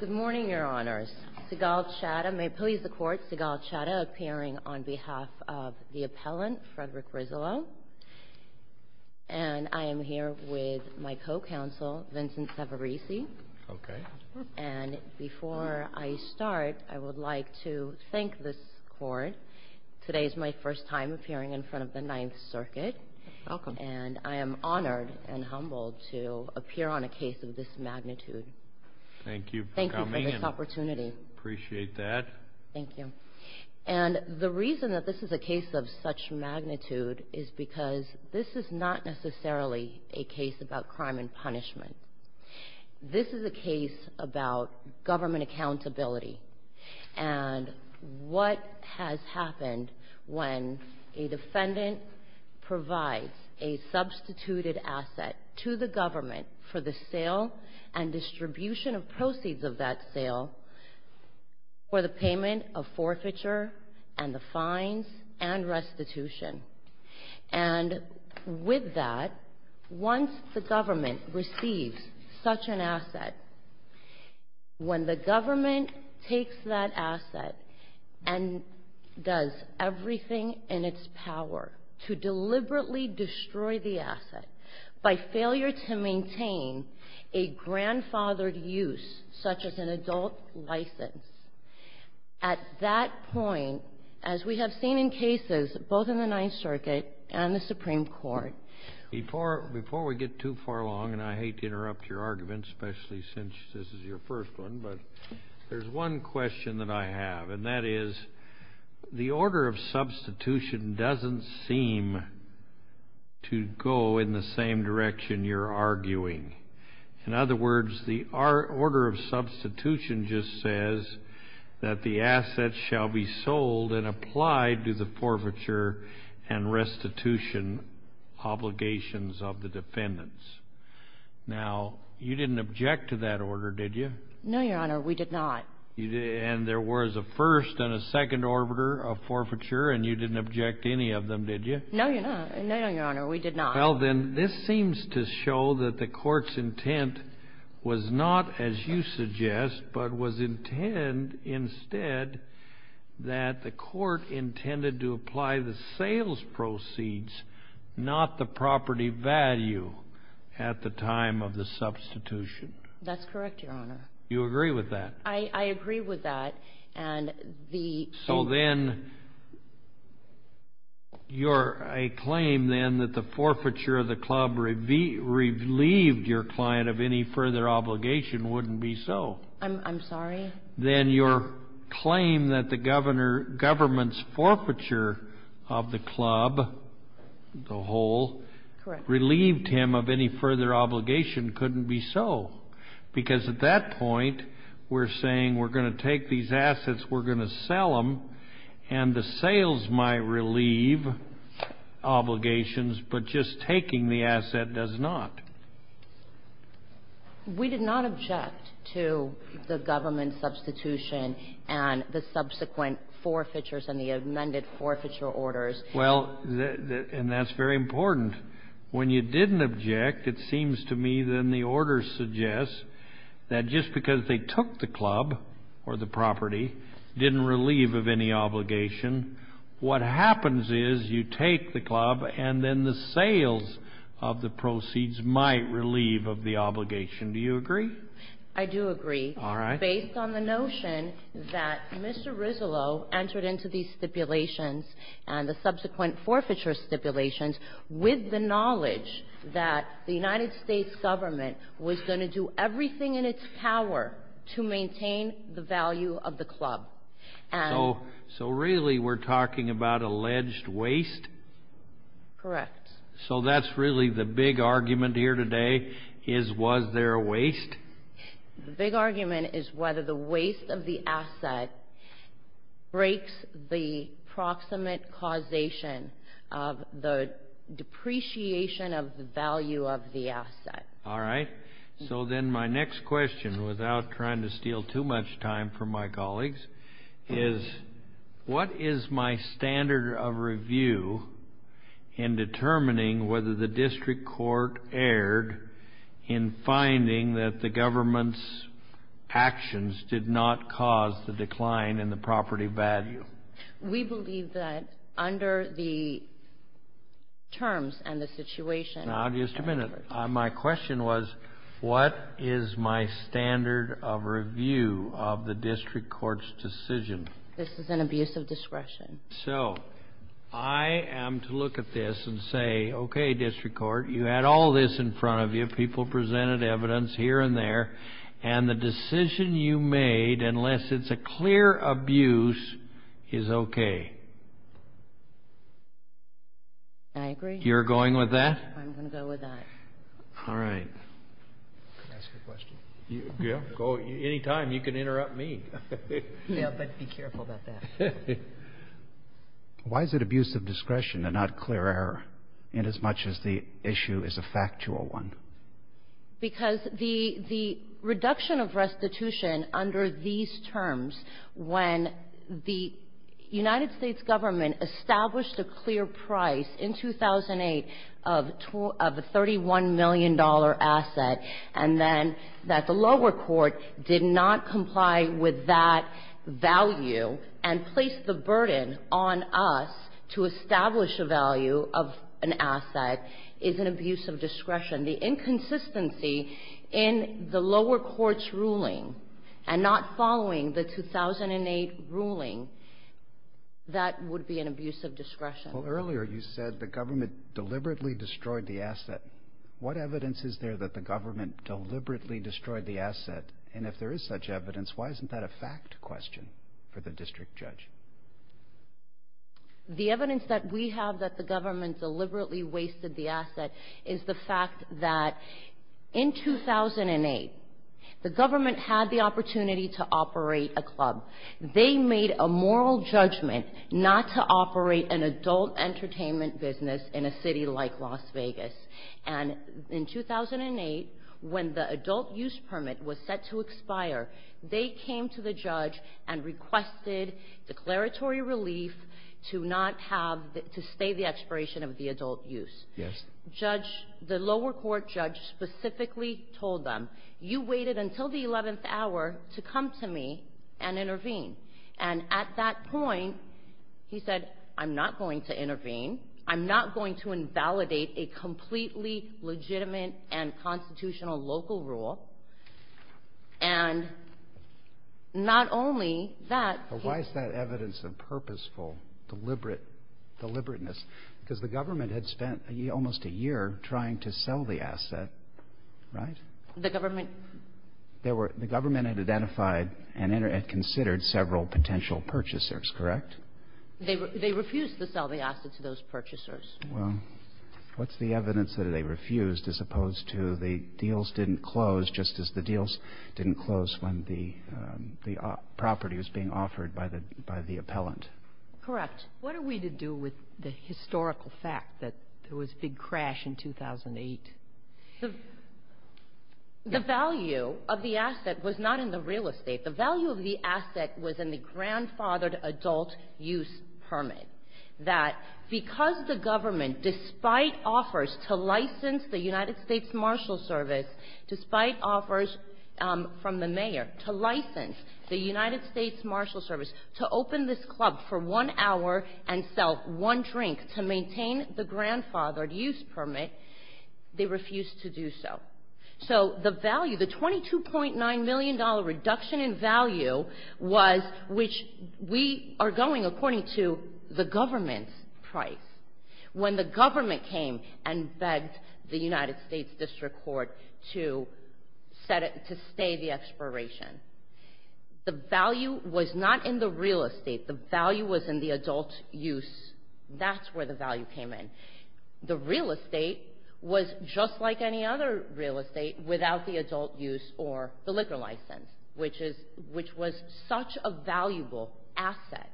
Good morning, Your Honors. May it please the Court, Seagal Chadda appearing on behalf of the appellant, Frederick Rizzolo. And I am here with my co-counsel, Vincent Severisi. Okay. And before I start, I would like to thank this Court. Today is my first time appearing in front of the Ninth Circuit. Welcome. And I am honored and humbled to appear on a case of this magnitude. Thank you for coming. Thank you for this opportunity. Appreciate that. Thank you. And the reason that this is a case of such magnitude is because this is not necessarily a case about crime and punishment. This is a case about government accountability and what has happened when a defendant provides a substituted asset to the government for the sale and distribution of proceeds of that sale for the payment of forfeiture and the fines and restitution. And with that, once the government receives such an asset, when the government takes that asset and does everything in its power to deliberately destroy the asset by failure to maintain a grandfathered use such as an adult license, at that point, as we have seen in cases both in the Ninth Circuit and the Supreme Court... Before we get too far along, and I hate to interrupt your argument, especially since this is your first one, but there's one question that I have, and that is, the order of substitution doesn't seem to go in the same direction you're arguing. In other words, the order of substitution just says that the asset shall be sold and applied to the forfeiture and restitution obligations of the defendants. Now, you didn't object to that order, did you? No, Your Honor, we did not. And there was a first and a second orbiter of forfeiture, and you didn't object to any of them, did you? No, Your Honor, we did not. Well, then, this seems to show that the Court's intent was not, as you suggest, but was intend instead that the Court intended to apply the sales proceeds, not the property value at the time of the substitution. That's correct, Your Honor. You agree with that? I agree with that, and the... So then your claim, then, that the forfeiture of the club relieved your client of any further obligation wouldn't be so. I'm sorry? Then your claim that the government's forfeiture of the club, the whole, relieved him of any further obligation couldn't be so, because at that point, we're saying we're going to take these assets, we're going to sell them, and the sales might relieve obligations, but just taking the asset does not. We did not object to the government substitution and the subsequent forfeitures and the amended forfeiture orders. Well, and that's very important. And when you didn't object, it seems to me, then, the order suggests that just because they took the club or the property didn't relieve of any obligation, what happens is you take the club and then the sales of the proceeds might relieve of the obligation. Do you agree? I do agree. All right. Based on the notion that Mr. Rizzolo entered into these stipulations and the subsequent forfeiture stipulations with the knowledge that the United States government was going to do everything in its power to maintain the value of the club. So really we're talking about alleged waste? Correct. So that's really the big argument here today is was there waste? The big argument is whether the waste of the asset breaks the proximate causation of the depreciation of the value of the asset. All right. So then my next question, without trying to steal too much time from my colleagues, is what is my standard of review in determining whether the district court erred in finding that the government's actions did not cause the decline in the property value? We believe that under the terms and the situation. Now, just a minute. My question was what is my standard of review of the district court's decision? This is an abuse of discretion. So I am to look at this and say, okay, district court, you had all this in front of you. People presented evidence here and there. And the decision you made, unless it's a clear abuse, is okay. I agree. You're going with that? I'm going to go with that. All right. Can I ask a question? Yeah, go. Any time. You can interrupt me. Yeah, but be careful about that. Why is it abuse of discretion and not clear error inasmuch as the issue is a factual one? Because the reduction of restitution under these terms when the United States government established a clear price in 2008 of a $31 million asset and then that the lower court did not comply with that value and placed the burden on us to establish a value of an asset is an abuse of discretion. The inconsistency in the lower court's ruling and not following the 2008 ruling, that would be an abuse of discretion. Well, earlier you said the government deliberately destroyed the asset. What evidence is there that the government deliberately destroyed the asset? And if there is such evidence, why isn't that a fact question for the district judge? The evidence that we have that the government deliberately wasted the asset is the fact that in 2008, the government had the opportunity to operate a club. They made a moral judgment not to operate an adult entertainment business in a city like Las Vegas. And in 2008, when the adult use permit was set to expire, they came to the judge and requested declaratory relief to not have the – to stay the expiration of the adult use. Yes. Judge – the lower court judge specifically told them, you waited until the 11th hour to come to me and intervene. And at that point, he said, I'm not going to intervene. I'm not going to invalidate a completely legitimate and constitutional local rule. And not only that – But why is that evidence of purposeful, deliberate – deliberateness? Because the government had spent almost a year trying to sell the asset, right? The government – The government had identified and considered several potential purchasers, correct? They refused to sell the asset to those purchasers. Well, what's the evidence that they refused, as opposed to the deals didn't close, just as the deals didn't close when the property was being offered by the appellant? Correct. What are we to do with the historical fact that there was a big crash in 2008? The value of the asset was not in the real estate. The value of the asset was in the grandfathered adult use permit, that because the government, despite offers to license the United States Marshal Service, despite offers from the mayor to license the United States Marshal Service to open this club for one hour and sell one drink to maintain the grandfathered use permit, they refused to do so. So the value, the $22.9 million reduction in value was – which we are going according to the government's price. When the government came and begged the United States District Court to stay the expiration, the value was not in the real estate. The value was in the adult use. That's where the value came in. The real estate was just like any other real estate without the adult use or the liquor license, which was such a valuable asset.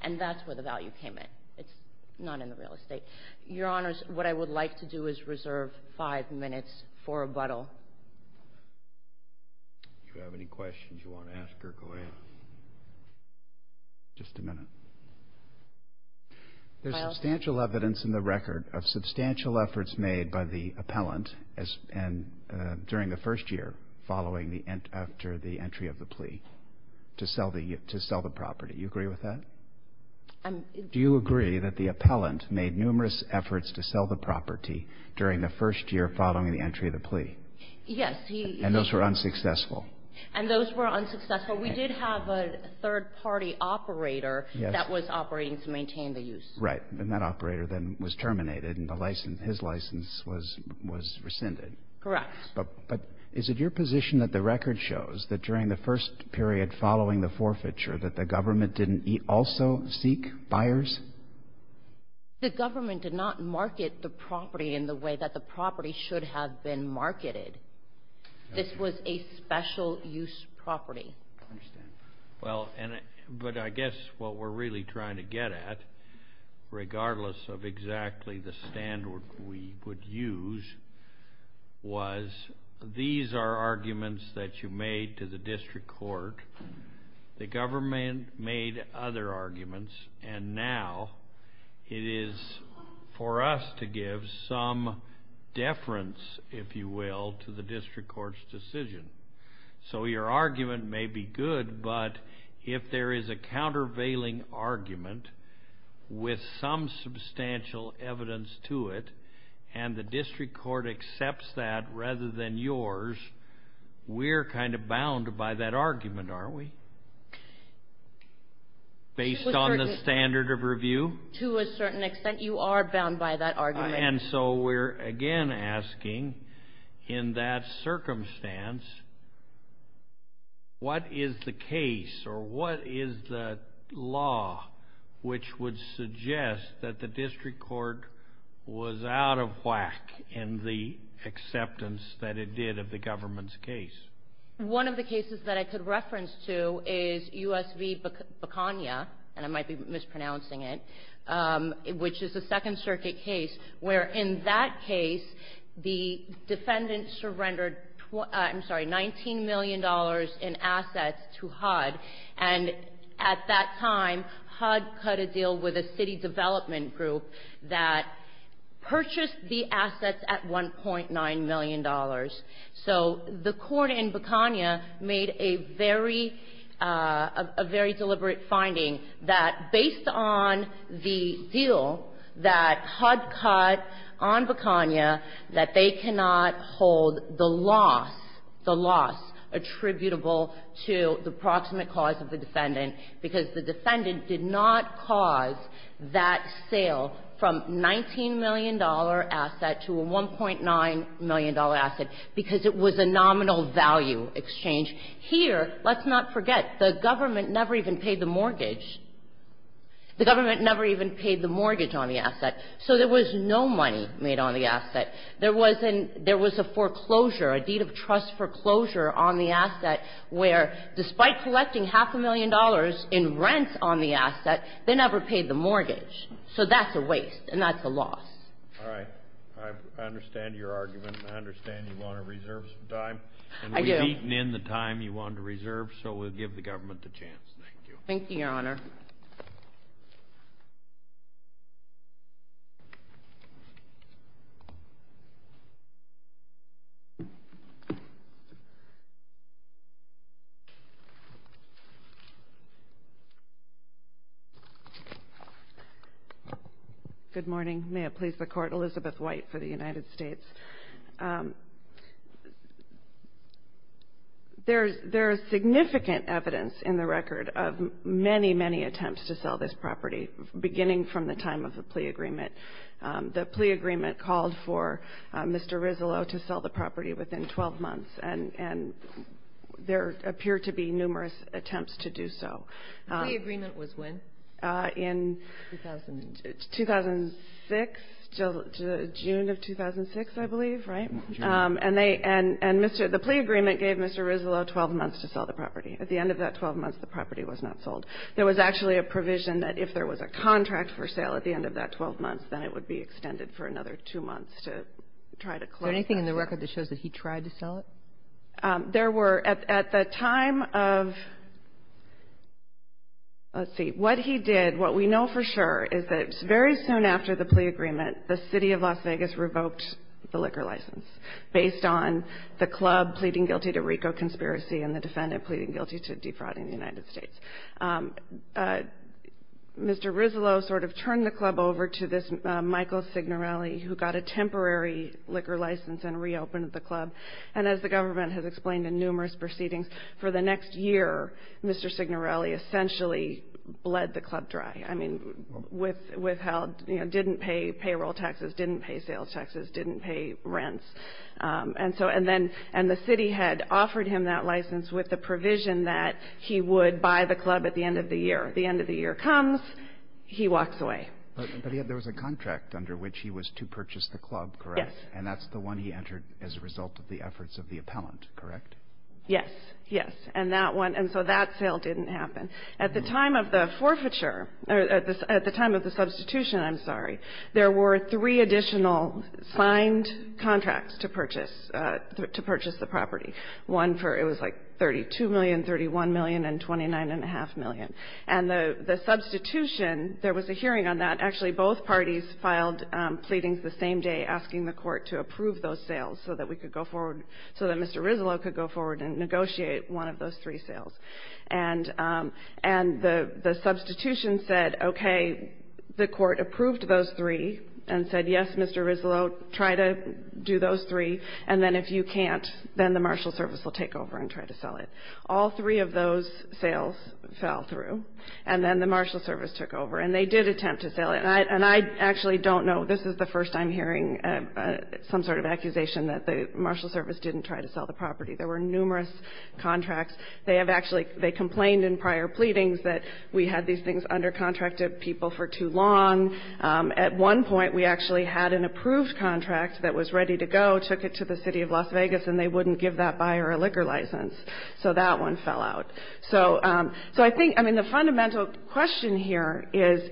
And that's where the value came in. It's not in the real estate. Your Honors, what I would like to do is reserve five minutes for rebuttal. If you have any questions you want to ask her, go ahead. Just a minute. There's substantial evidence in the record of substantial efforts made by the appellant during the first year following the – after the entry of the plea to sell the property. Do you agree with that? Do you agree that the appellant made numerous efforts to sell the property during the first year following the entry of the plea? And those were unsuccessful. And those were unsuccessful. We did have a third-party operator that was operating to maintain the use. Right. And that operator then was terminated and his license was rescinded. Correct. But is it your position that the record shows that during the first period following the forfeiture that the government didn't also seek buyers? The government did not market the property in the way that the property should have been marketed. This was a special-use property. I understand. Well, but I guess what we're really trying to get at, regardless of exactly the standard we would use, was these are arguments that you made to the district court. The government made other arguments. And now it is for us to give some deference, if you will, to the district court's decision. So your argument may be good, but if there is a countervailing argument with some substantial evidence to it and the district court accepts that rather than yours, we're kind of bound by that argument, aren't we? Based on the standard of review? To a certain extent, you are bound by that argument. And so we're again asking, in that circumstance, what is the case or what is the law which would suggest that the district court was out of whack in the acceptance that it did of the government's case? One of the cases that I could reference to is U.S. v. Baconia, and I might be mispronouncing it, which is a Second Circuit case where, in that case, the defendant surrendered $19 million in assets to HUD. And at that time, HUD cut a deal with a city development group that purchased the assets at $1.9 million. So the court in Baconia made a very, a very deliberate finding that based on the deal that HUD cut on Baconia, that they cannot hold the loss, the loss attributable to the proximate cause of the defendant, because the defendant did not cause that sale from $19 million asset to a $1.9 million asset because it was a nominal value exchange. Here, let's not forget, the government never even paid the mortgage. The government never even paid the mortgage on the asset. So there was no money made on the asset. There was a foreclosure, a deed of trust foreclosure on the asset where, despite collecting half a million dollars in rent on the asset, they never paid the mortgage. So that's a waste and that's a loss. All right. I understand your argument. I understand you want to reserve some time. I do. And we've eaten in the time you want to reserve, so we'll give the government the chance. Thank you. Thank you, Your Honor. Good morning. May it please the Court. Elizabeth White for the United States. There is significant evidence in the record of many, many attempts to sell this property beginning from the time of the plea agreement. The plea agreement called for Mr. Rizzolo to sell the property within 12 months, and there appear to be numerous attempts to do so. The plea agreement was when? In 2006, June of 2006, I believe. Right? And the plea agreement gave Mr. Rizzolo 12 months to sell the property. At the end of that 12 months, the property was not sold. There was actually a provision that if there was a contract for sale at the end of that 12 months, then it would be extended for another two months to try to close that sale. Is there anything in the record that shows that he tried to sell it? There were. At the time of, let's see, what he did, what we know for sure is that very soon after the plea agreement, the City of Las Vegas revoked the liquor license based on the club pleading guilty to RICO conspiracy and the defendant pleading guilty to defrauding the United States. Mr. Rizzolo sort of turned the club over to this Michael Signorelli, who got a temporary liquor license and reopened the club. And as the government has explained in numerous proceedings, for the next year Mr. Signorelli essentially bled the club dry. Withheld, didn't pay payroll taxes, didn't pay sales taxes, didn't pay rents. And the city had offered him that license with the provision that he would buy the club at the end of the year. The end of the year comes, he walks away. But there was a contract under which he was to purchase the club, correct? Yes. And that's the one he entered as a result of the efforts of the appellant, correct? Yes, yes. And so that sale didn't happen. At the time of the forfeiture, or at the time of the substitution, I'm sorry, there were three additional signed contracts to purchase the property. One for, it was like $32 million, $31 million, and $29.5 million. And the substitution, there was a hearing on that. Actually, both parties filed pleadings the same day asking the court to approve those sales so that we could go forward, so that Mr. Rizzolo could go forward and negotiate one of those three sales. And the substitution said, okay, the court approved those three and said, yes, Mr. Rizzolo, try to do those three. And then if you can't, then the marshal service will take over and try to sell it. All three of those sales fell through. And then the marshal service took over. And they did attempt to sell it. And I actually don't know, this is the first I'm hearing some sort of accusation that the marshal service didn't try to sell the property. There were numerous contracts. They have actually, they complained in prior pleadings that we had these things under contract to people for too long. At one point, we actually had an approved contract that was ready to go, took it to the City of Las Vegas, and they wouldn't give that buyer a liquor license. So that one fell out. So I think, I mean, the fundamental question here is,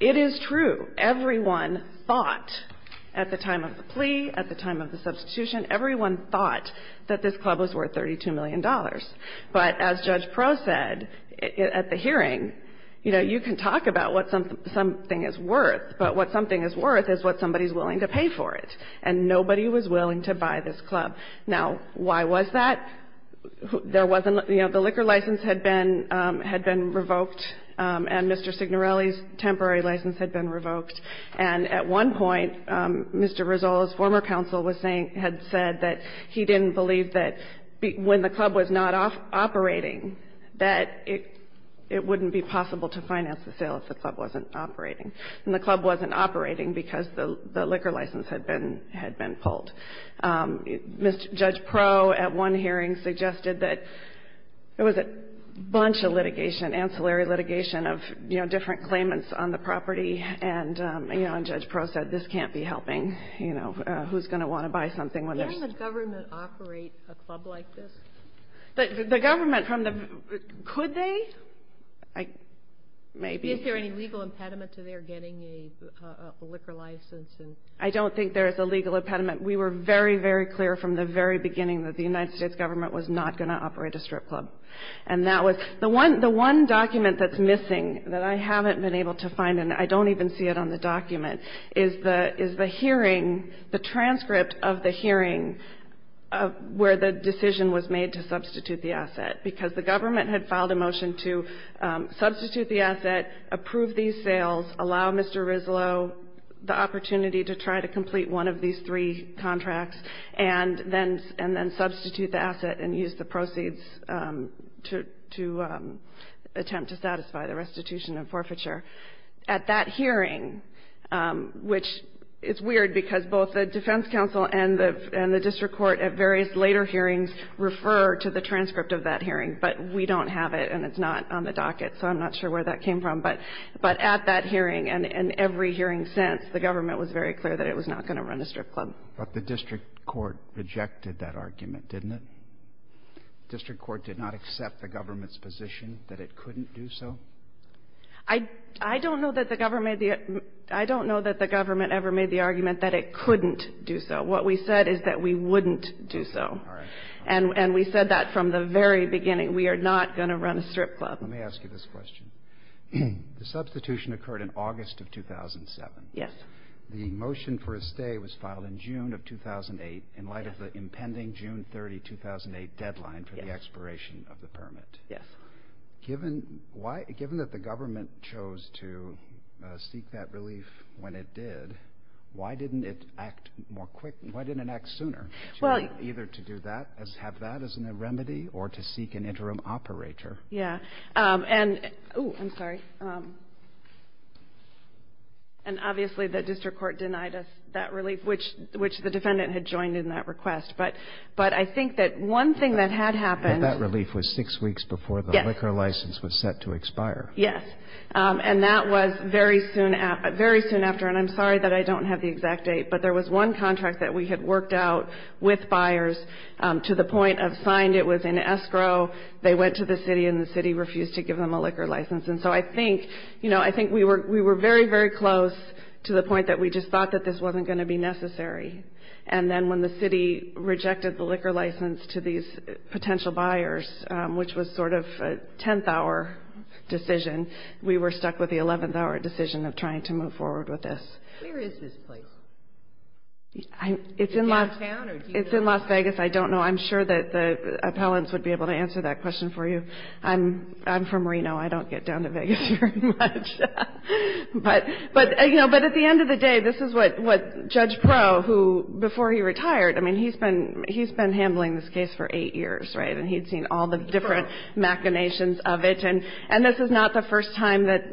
it is true, everyone thought at the time of the plea, at the time of the substitution, everyone thought that this club was worth $32 million. But as Judge Proulx said at the hearing, you know, you can talk about what something is worth, but what something is worth is what somebody is willing to pay for it. And nobody was willing to buy this club. Now, why was that? There wasn't, you know, the liquor license had been revoked, and Mr. Signorelli's temporary license had been revoked. And at one point, Mr. Rizzolo's former counsel was saying, had said that he didn't believe that when the club was not operating, that it wouldn't be possible to finance the sale if the club wasn't operating. And the club wasn't operating because the liquor license had been pulled. Judge Proulx at one hearing suggested that it was a bunch of litigation, ancillary litigation of, you know, different claimants on the property. And, you know, and Judge Proulx said, this can't be helping. You know, who's going to want to buy something when there's ‑‑ Can the government operate a club like this? The government from the ‑‑ could they? Maybe. Is there any legal impediment to their getting a liquor license? I don't think there is a legal impediment. We were very, very clear from the very beginning that the United States government was not going to operate a strip club. And that was ‑‑ the one document that's missing, that I haven't been able to find, and I don't even see it on the document, is the hearing, the transcript of the hearing where the decision was made to substitute the asset. Because the government had filed a motion to substitute the asset, approve these sales, allow Mr. Rizzolo the opportunity to try to complete one of these three contracts, and then substitute the asset and use the proceeds to attempt to satisfy the restitution and forfeiture. At that hearing, which is weird because both the defense counsel and the district court at various later hearings refer to the transcript of that hearing, but we don't have it and it's not on the docket, so I'm not sure where that came from. But at that hearing and every hearing since, the government was very clear that it was not going to run a strip club. But the district court rejected that argument, didn't it? The district court did not accept the government's position that it couldn't do so? I don't know that the government ever made the argument that it couldn't do so. What we said is that we wouldn't do so. And we said that from the very beginning. We are not going to run a strip club. Let me ask you this question. The substitution occurred in August of 2007. Yes. The motion for a stay was filed in June of 2008 in light of the impending June 30, 2008 deadline for the expiration of the permit. Yes. Given that the government chose to seek that relief when it did, why didn't it act more quickly? Why didn't it act sooner? Well, Either to have that as a remedy or to seek an interim operator. Yeah. Oh, I'm sorry. And obviously the district court denied us that relief, which the defendant had joined in that request. But I think that one thing that had happened. That relief was six weeks before the liquor license was set to expire. Yes. And that was very soon after. And I'm sorry that I don't have the exact date, but there was one contract that we had worked out with buyers to the point of signed. It was in escrow. They went to the city, and the city refused to give them a liquor license. And so I think we were very, very close to the point that we just thought that this wasn't going to be necessary. And then when the city rejected the liquor license to these potential buyers, which was sort of a tenth-hour decision, we were stuck with the eleventh-hour decision of trying to move forward with this. Where is this place? It's in Las Vegas. I don't know. I'm sure that the appellants would be able to answer that question for you. I'm from Reno. I don't get down to Vegas very much. But at the end of the day, this is what Judge Proe, who before he retired, I mean, he's been handling this case for eight years, right, and he'd seen all the different machinations of it. And this is not the first time that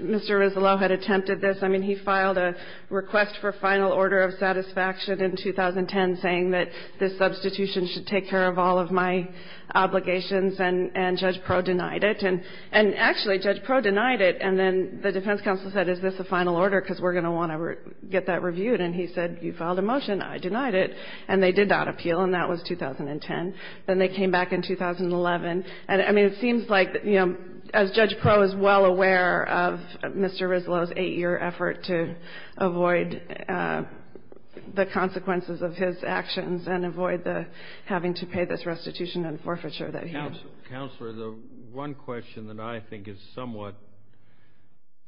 Mr. Rizzolo had attempted this. I mean, he filed a request for final order of satisfaction in 2010 saying that this substitution should take care of all of my obligations, and Judge Proe denied it. And actually, Judge Proe denied it, and then the defense counsel said, is this a final order because we're going to want to get that reviewed? And he said, you filed a motion. I denied it. And they did not appeal, and that was 2010. Then they came back in 2011. And I mean, it seems like, you know, as Judge Proe is well aware of Mr. Rizzolo's eight-year effort to avoid the consequences of his actions and avoid the having to pay this restitution and forfeiture that he had. Counselor, the one question that I think is somewhat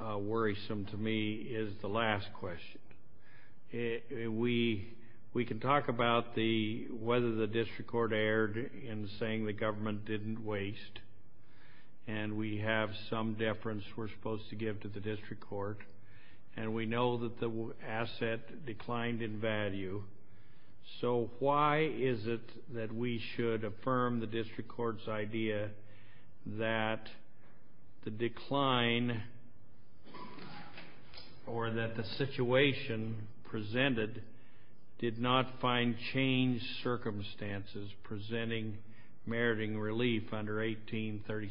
worrisome to me is the last question. We can talk about whether the district court erred in saying the government didn't waste, and we have some deference we're supposed to give to the district court, and we know that the asset declined in value. So why is it that we should affirm the district court's idea that the decline or that the situation presented did not find changed circumstances presenting meriting relief under 1836-64?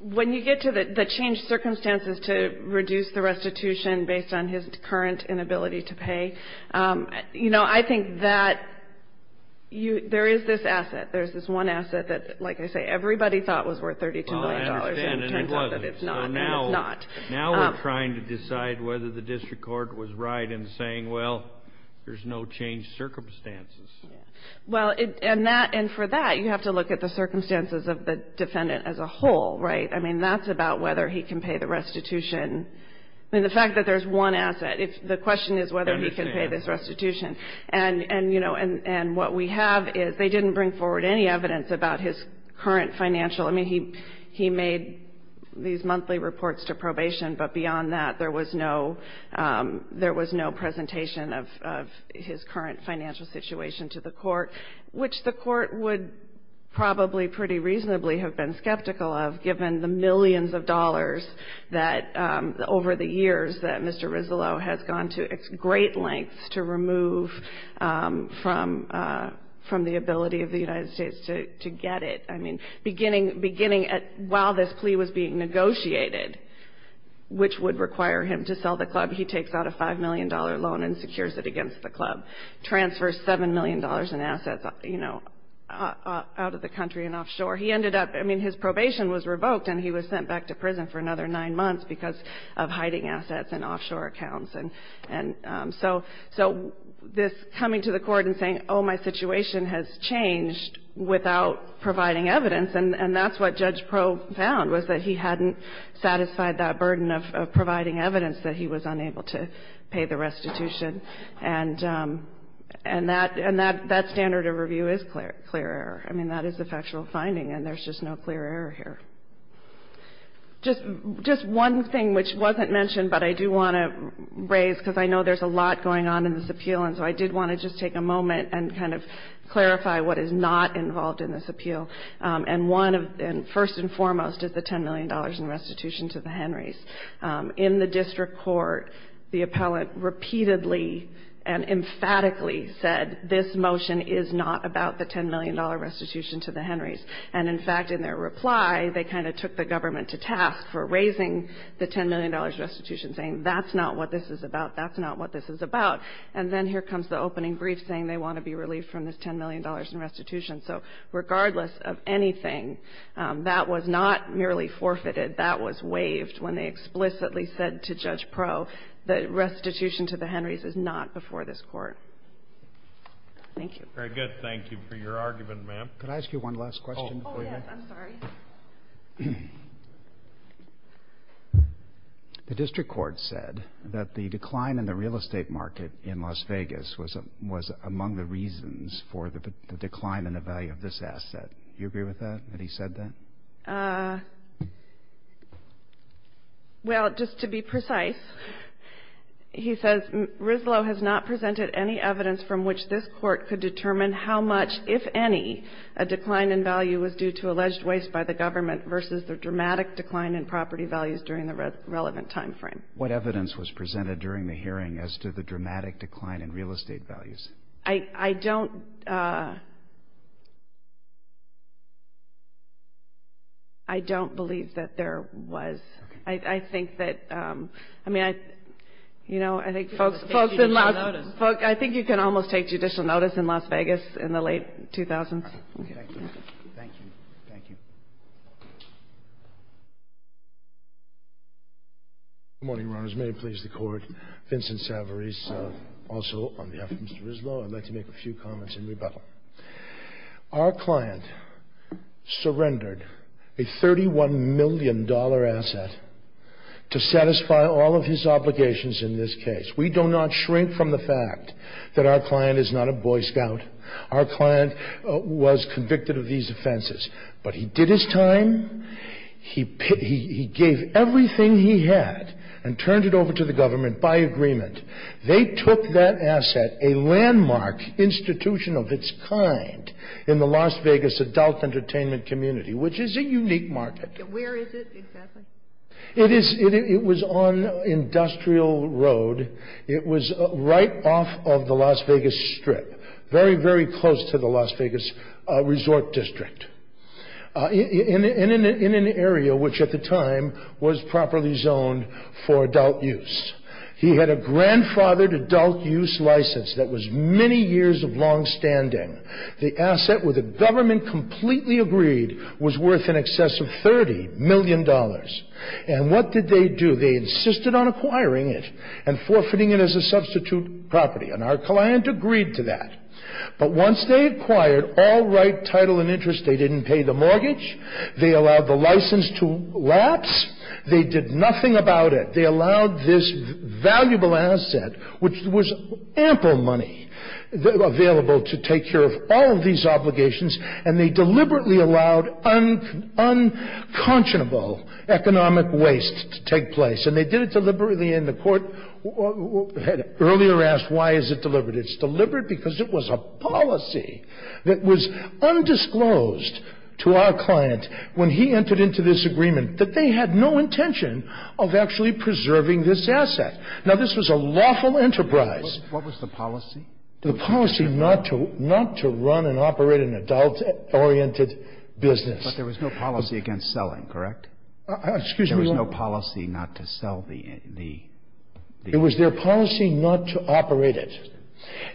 When you get to the changed circumstances to reduce the restitution based on his current inability to pay, you know, I think that there is this asset, there's this one asset that, like I say, everybody thought was worth $32 million, and it turns out that it's not. Now we're trying to decide whether the district court was right in saying, well, there's no changed circumstances. Well, and for that, you have to look at the circumstances of the defendant as a whole, right? I mean, that's about whether he can pay the restitution. I mean, the fact that there's one asset, the question is whether he can pay this restitution. And, you know, and what we have is they didn't bring forward any evidence about his current financial – I mean, he made these monthly reports to probation, but beyond that, there was no presentation of his current financial situation to the court, which the court would probably pretty reasonably have been skeptical of, given the millions of dollars that, over the years, that Mr. Rizzolo has gone to great lengths to remove from the ability of the United States to get it. I mean, beginning while this plea was being negotiated, which would require him to sell the club, he takes out a $5 million loan and secures it against the club, transfers $7 million in assets, you know, out of the country and offshore. He ended up – I mean, his probation was revoked, and he was sent back to prison for another nine months because of hiding assets and offshore accounts. And so this coming to the court and saying, oh, my situation has changed without providing evidence, and that's what Judge Pro found, was that he hadn't satisfied that burden of providing evidence that he was unable to pay the restitution. And that standard of review is clear error. I mean, that is a factual finding, and there's just no clear error here. Just one thing, which wasn't mentioned, but I do want to raise, because I know there's a lot going on in this appeal, and so I did want to just take a moment and kind of clarify what is not involved in this appeal. And one, first and foremost, is the $10 million in restitution to the Henrys. In the district court, the appellant repeatedly and emphatically said this motion is not about the $10 million restitution to the Henrys. And, in fact, in their reply, they kind of took the government to task for raising the $10 million restitution, saying that's not what this is about, that's not what this is about. And then here comes the opening brief saying they want to be relieved from this $10 million in restitution. So regardless of anything, that was not merely forfeited. That was waived when they explicitly said to Judge Pro the restitution to the Henrys is not before this Court. Thank you. Very good. Thank you for your argument, ma'am. Could I ask you one last question? Oh, yes. I'm sorry. The district court said that the decline in the real estate market in Las Vegas was among the reasons for the decline in the value of this asset. Do you agree with that, that he said that? Well, just to be precise, he says, Rizlo has not presented any evidence from which this Court could determine how much, if any, a decline in value was due to alleged waste by the government versus the dramatic decline in property values during the relevant timeframe. What evidence was presented during the hearing as to the dramatic decline in real estate values? I don't believe that there was. I think that, I mean, you know, I think folks in Las Vegas, I think you can almost take judicial notice in Las Vegas in the late 2000s. Thank you. Thank you. Good morning, Your Honors. May it please the Court. Vincent Savarese, also on behalf of Mr. Rizlo, I'd like to make a few comments in rebuttal. Our client surrendered a $31 million asset to satisfy all of his obligations in this case. We do not shrink from the fact that our client is not a Boy Scout. Our client was convicted of these offenses, but he did his time. He gave everything he had and turned it over to the government by agreement. They took that asset, a landmark institution of its kind, in the Las Vegas adult entertainment community, which is a unique market. Where is it exactly? It is, it was on Industrial Road. It was right off of the Las Vegas Strip, very, very close to the Las Vegas Resort District, in an area which at the time was properly zoned for adult use. He had a grandfathered adult use license that was many years of longstanding. The asset, where the government completely agreed, was worth in excess of $30 million. And what did they do? They insisted on acquiring it and forfeiting it as a substitute property, and our client agreed to that. But once they acquired all right, title, and interest, they didn't pay the mortgage. They allowed the license to lapse. They did nothing about it. They allowed this valuable asset, which was ample money, available to take care of all of these obligations, and they deliberately allowed unconscionable economic waste to take place. And they did it deliberately, and the court earlier asked, why is it deliberate? It's deliberate because it was a policy that was undisclosed to our client, when he entered into this agreement, that they had no intention of actually preserving this asset. Now, this was a lawful enterprise. What was the policy? The policy not to run and operate an adult-oriented business. But there was no policy against selling, correct? Excuse me? There was no policy not to sell the asset? It was their policy not to operate it.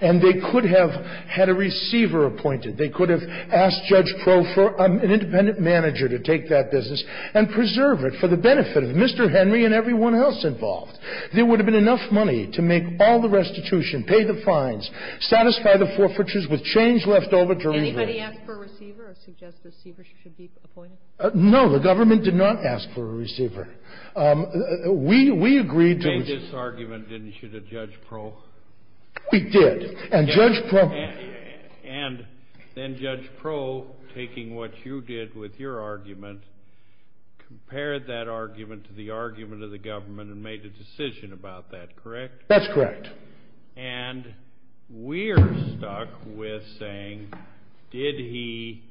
And they could have had a receiver appointed. They could have asked Judge Pro for an independent manager to take that business and preserve it for the benefit of Mr. Henry and everyone else involved. There would have been enough money to make all the restitution, pay the fines, satisfy the forfeitures with change left over to reverse. Anybody ask for a receiver or suggest a receiver should be appointed? No. The government did not ask for a receiver. We agreed to the ---- You made this argument, didn't you, to Judge Pro? We did. And Judge Pro ---- And then Judge Pro, taking what you did with your argument, compared that argument to the argument of the government and made a decision about that, correct? That's correct. And we're stuck with saying, did he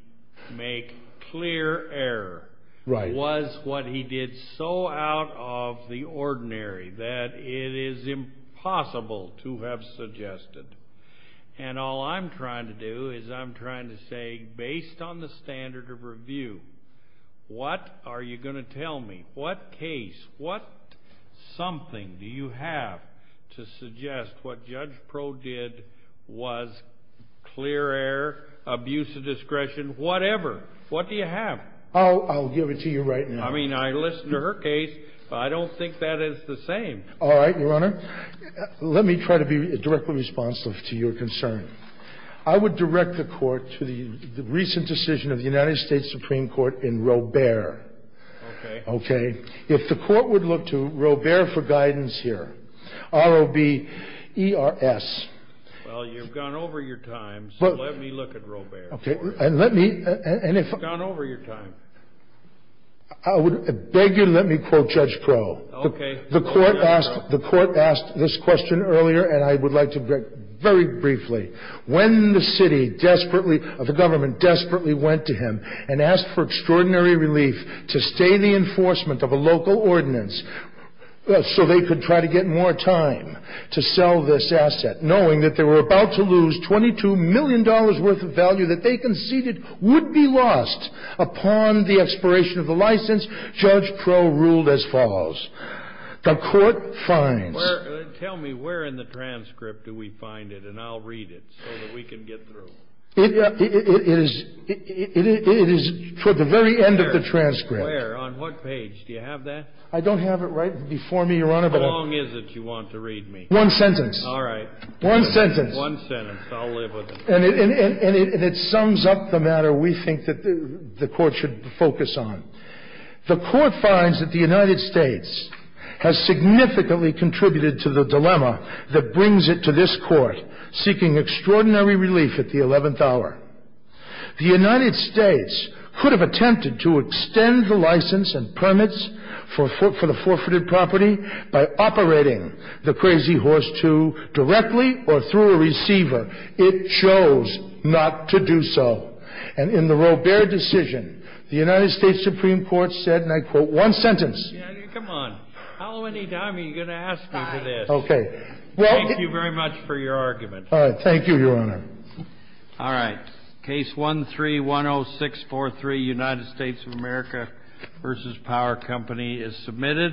make clear error? Right. Was what he did so out of the ordinary that it is impossible to have suggested? And all I'm trying to do is I'm trying to say, based on the standard of review, what are you going to tell me? What case, what something do you have to suggest what Judge Pro did was clear error, abuse of discretion, whatever? What do you have? I'll give it to you right now. I mean, I listened to her case, but I don't think that is the same. All right, Your Honor. Let me try to be directly responsive to your concern. I would direct the Court to the recent decision of the United States Supreme Court in Robert. Okay. Okay. If the Court would look to Robert for guidance here, R-O-B-E-R-S. Well, you've gone over your time, so let me look at Robert. Okay. And let me ---- You've gone over your time. I would beg you to let me quote Judge Pro. Okay. The Court asked this question earlier, and I would like to very briefly. When the city desperately, the government desperately went to him and asked for extraordinary relief to stay in the enforcement of a local ordinance so they could try to get more time to sell this asset, knowing that they were about to lose $22 million worth of value that they conceded would be lost upon the expiration of the license, Judge Pro ruled as follows. The Court finds ---- Tell me where in the transcript do we find it, and I'll read it so that we can get through. It is toward the very end of the transcript. Where? On what page? Do you have that? I don't have it right before me, Your Honor. How long is it you want to read me? One sentence. All right. One sentence. One sentence. I'll live with it. And it sums up the matter we think that the Court should focus on. The Court finds that the United States has significantly contributed to the dilemma that brings it to this Court, seeking extraordinary relief at the 11th hour. The United States could have attempted to extend the license and permits for the forfeited property by operating the Crazy Horse II directly or through a receiver. It chose not to do so. And in the Robert decision, the United States Supreme Court said, and I quote, one sentence. Come on. How many times are you going to ask me for this? Okay. Thank you very much for your argument. All right. Thank you, Your Honor. All right. Case 13-10643, United States of America v. Power Company, is submitted.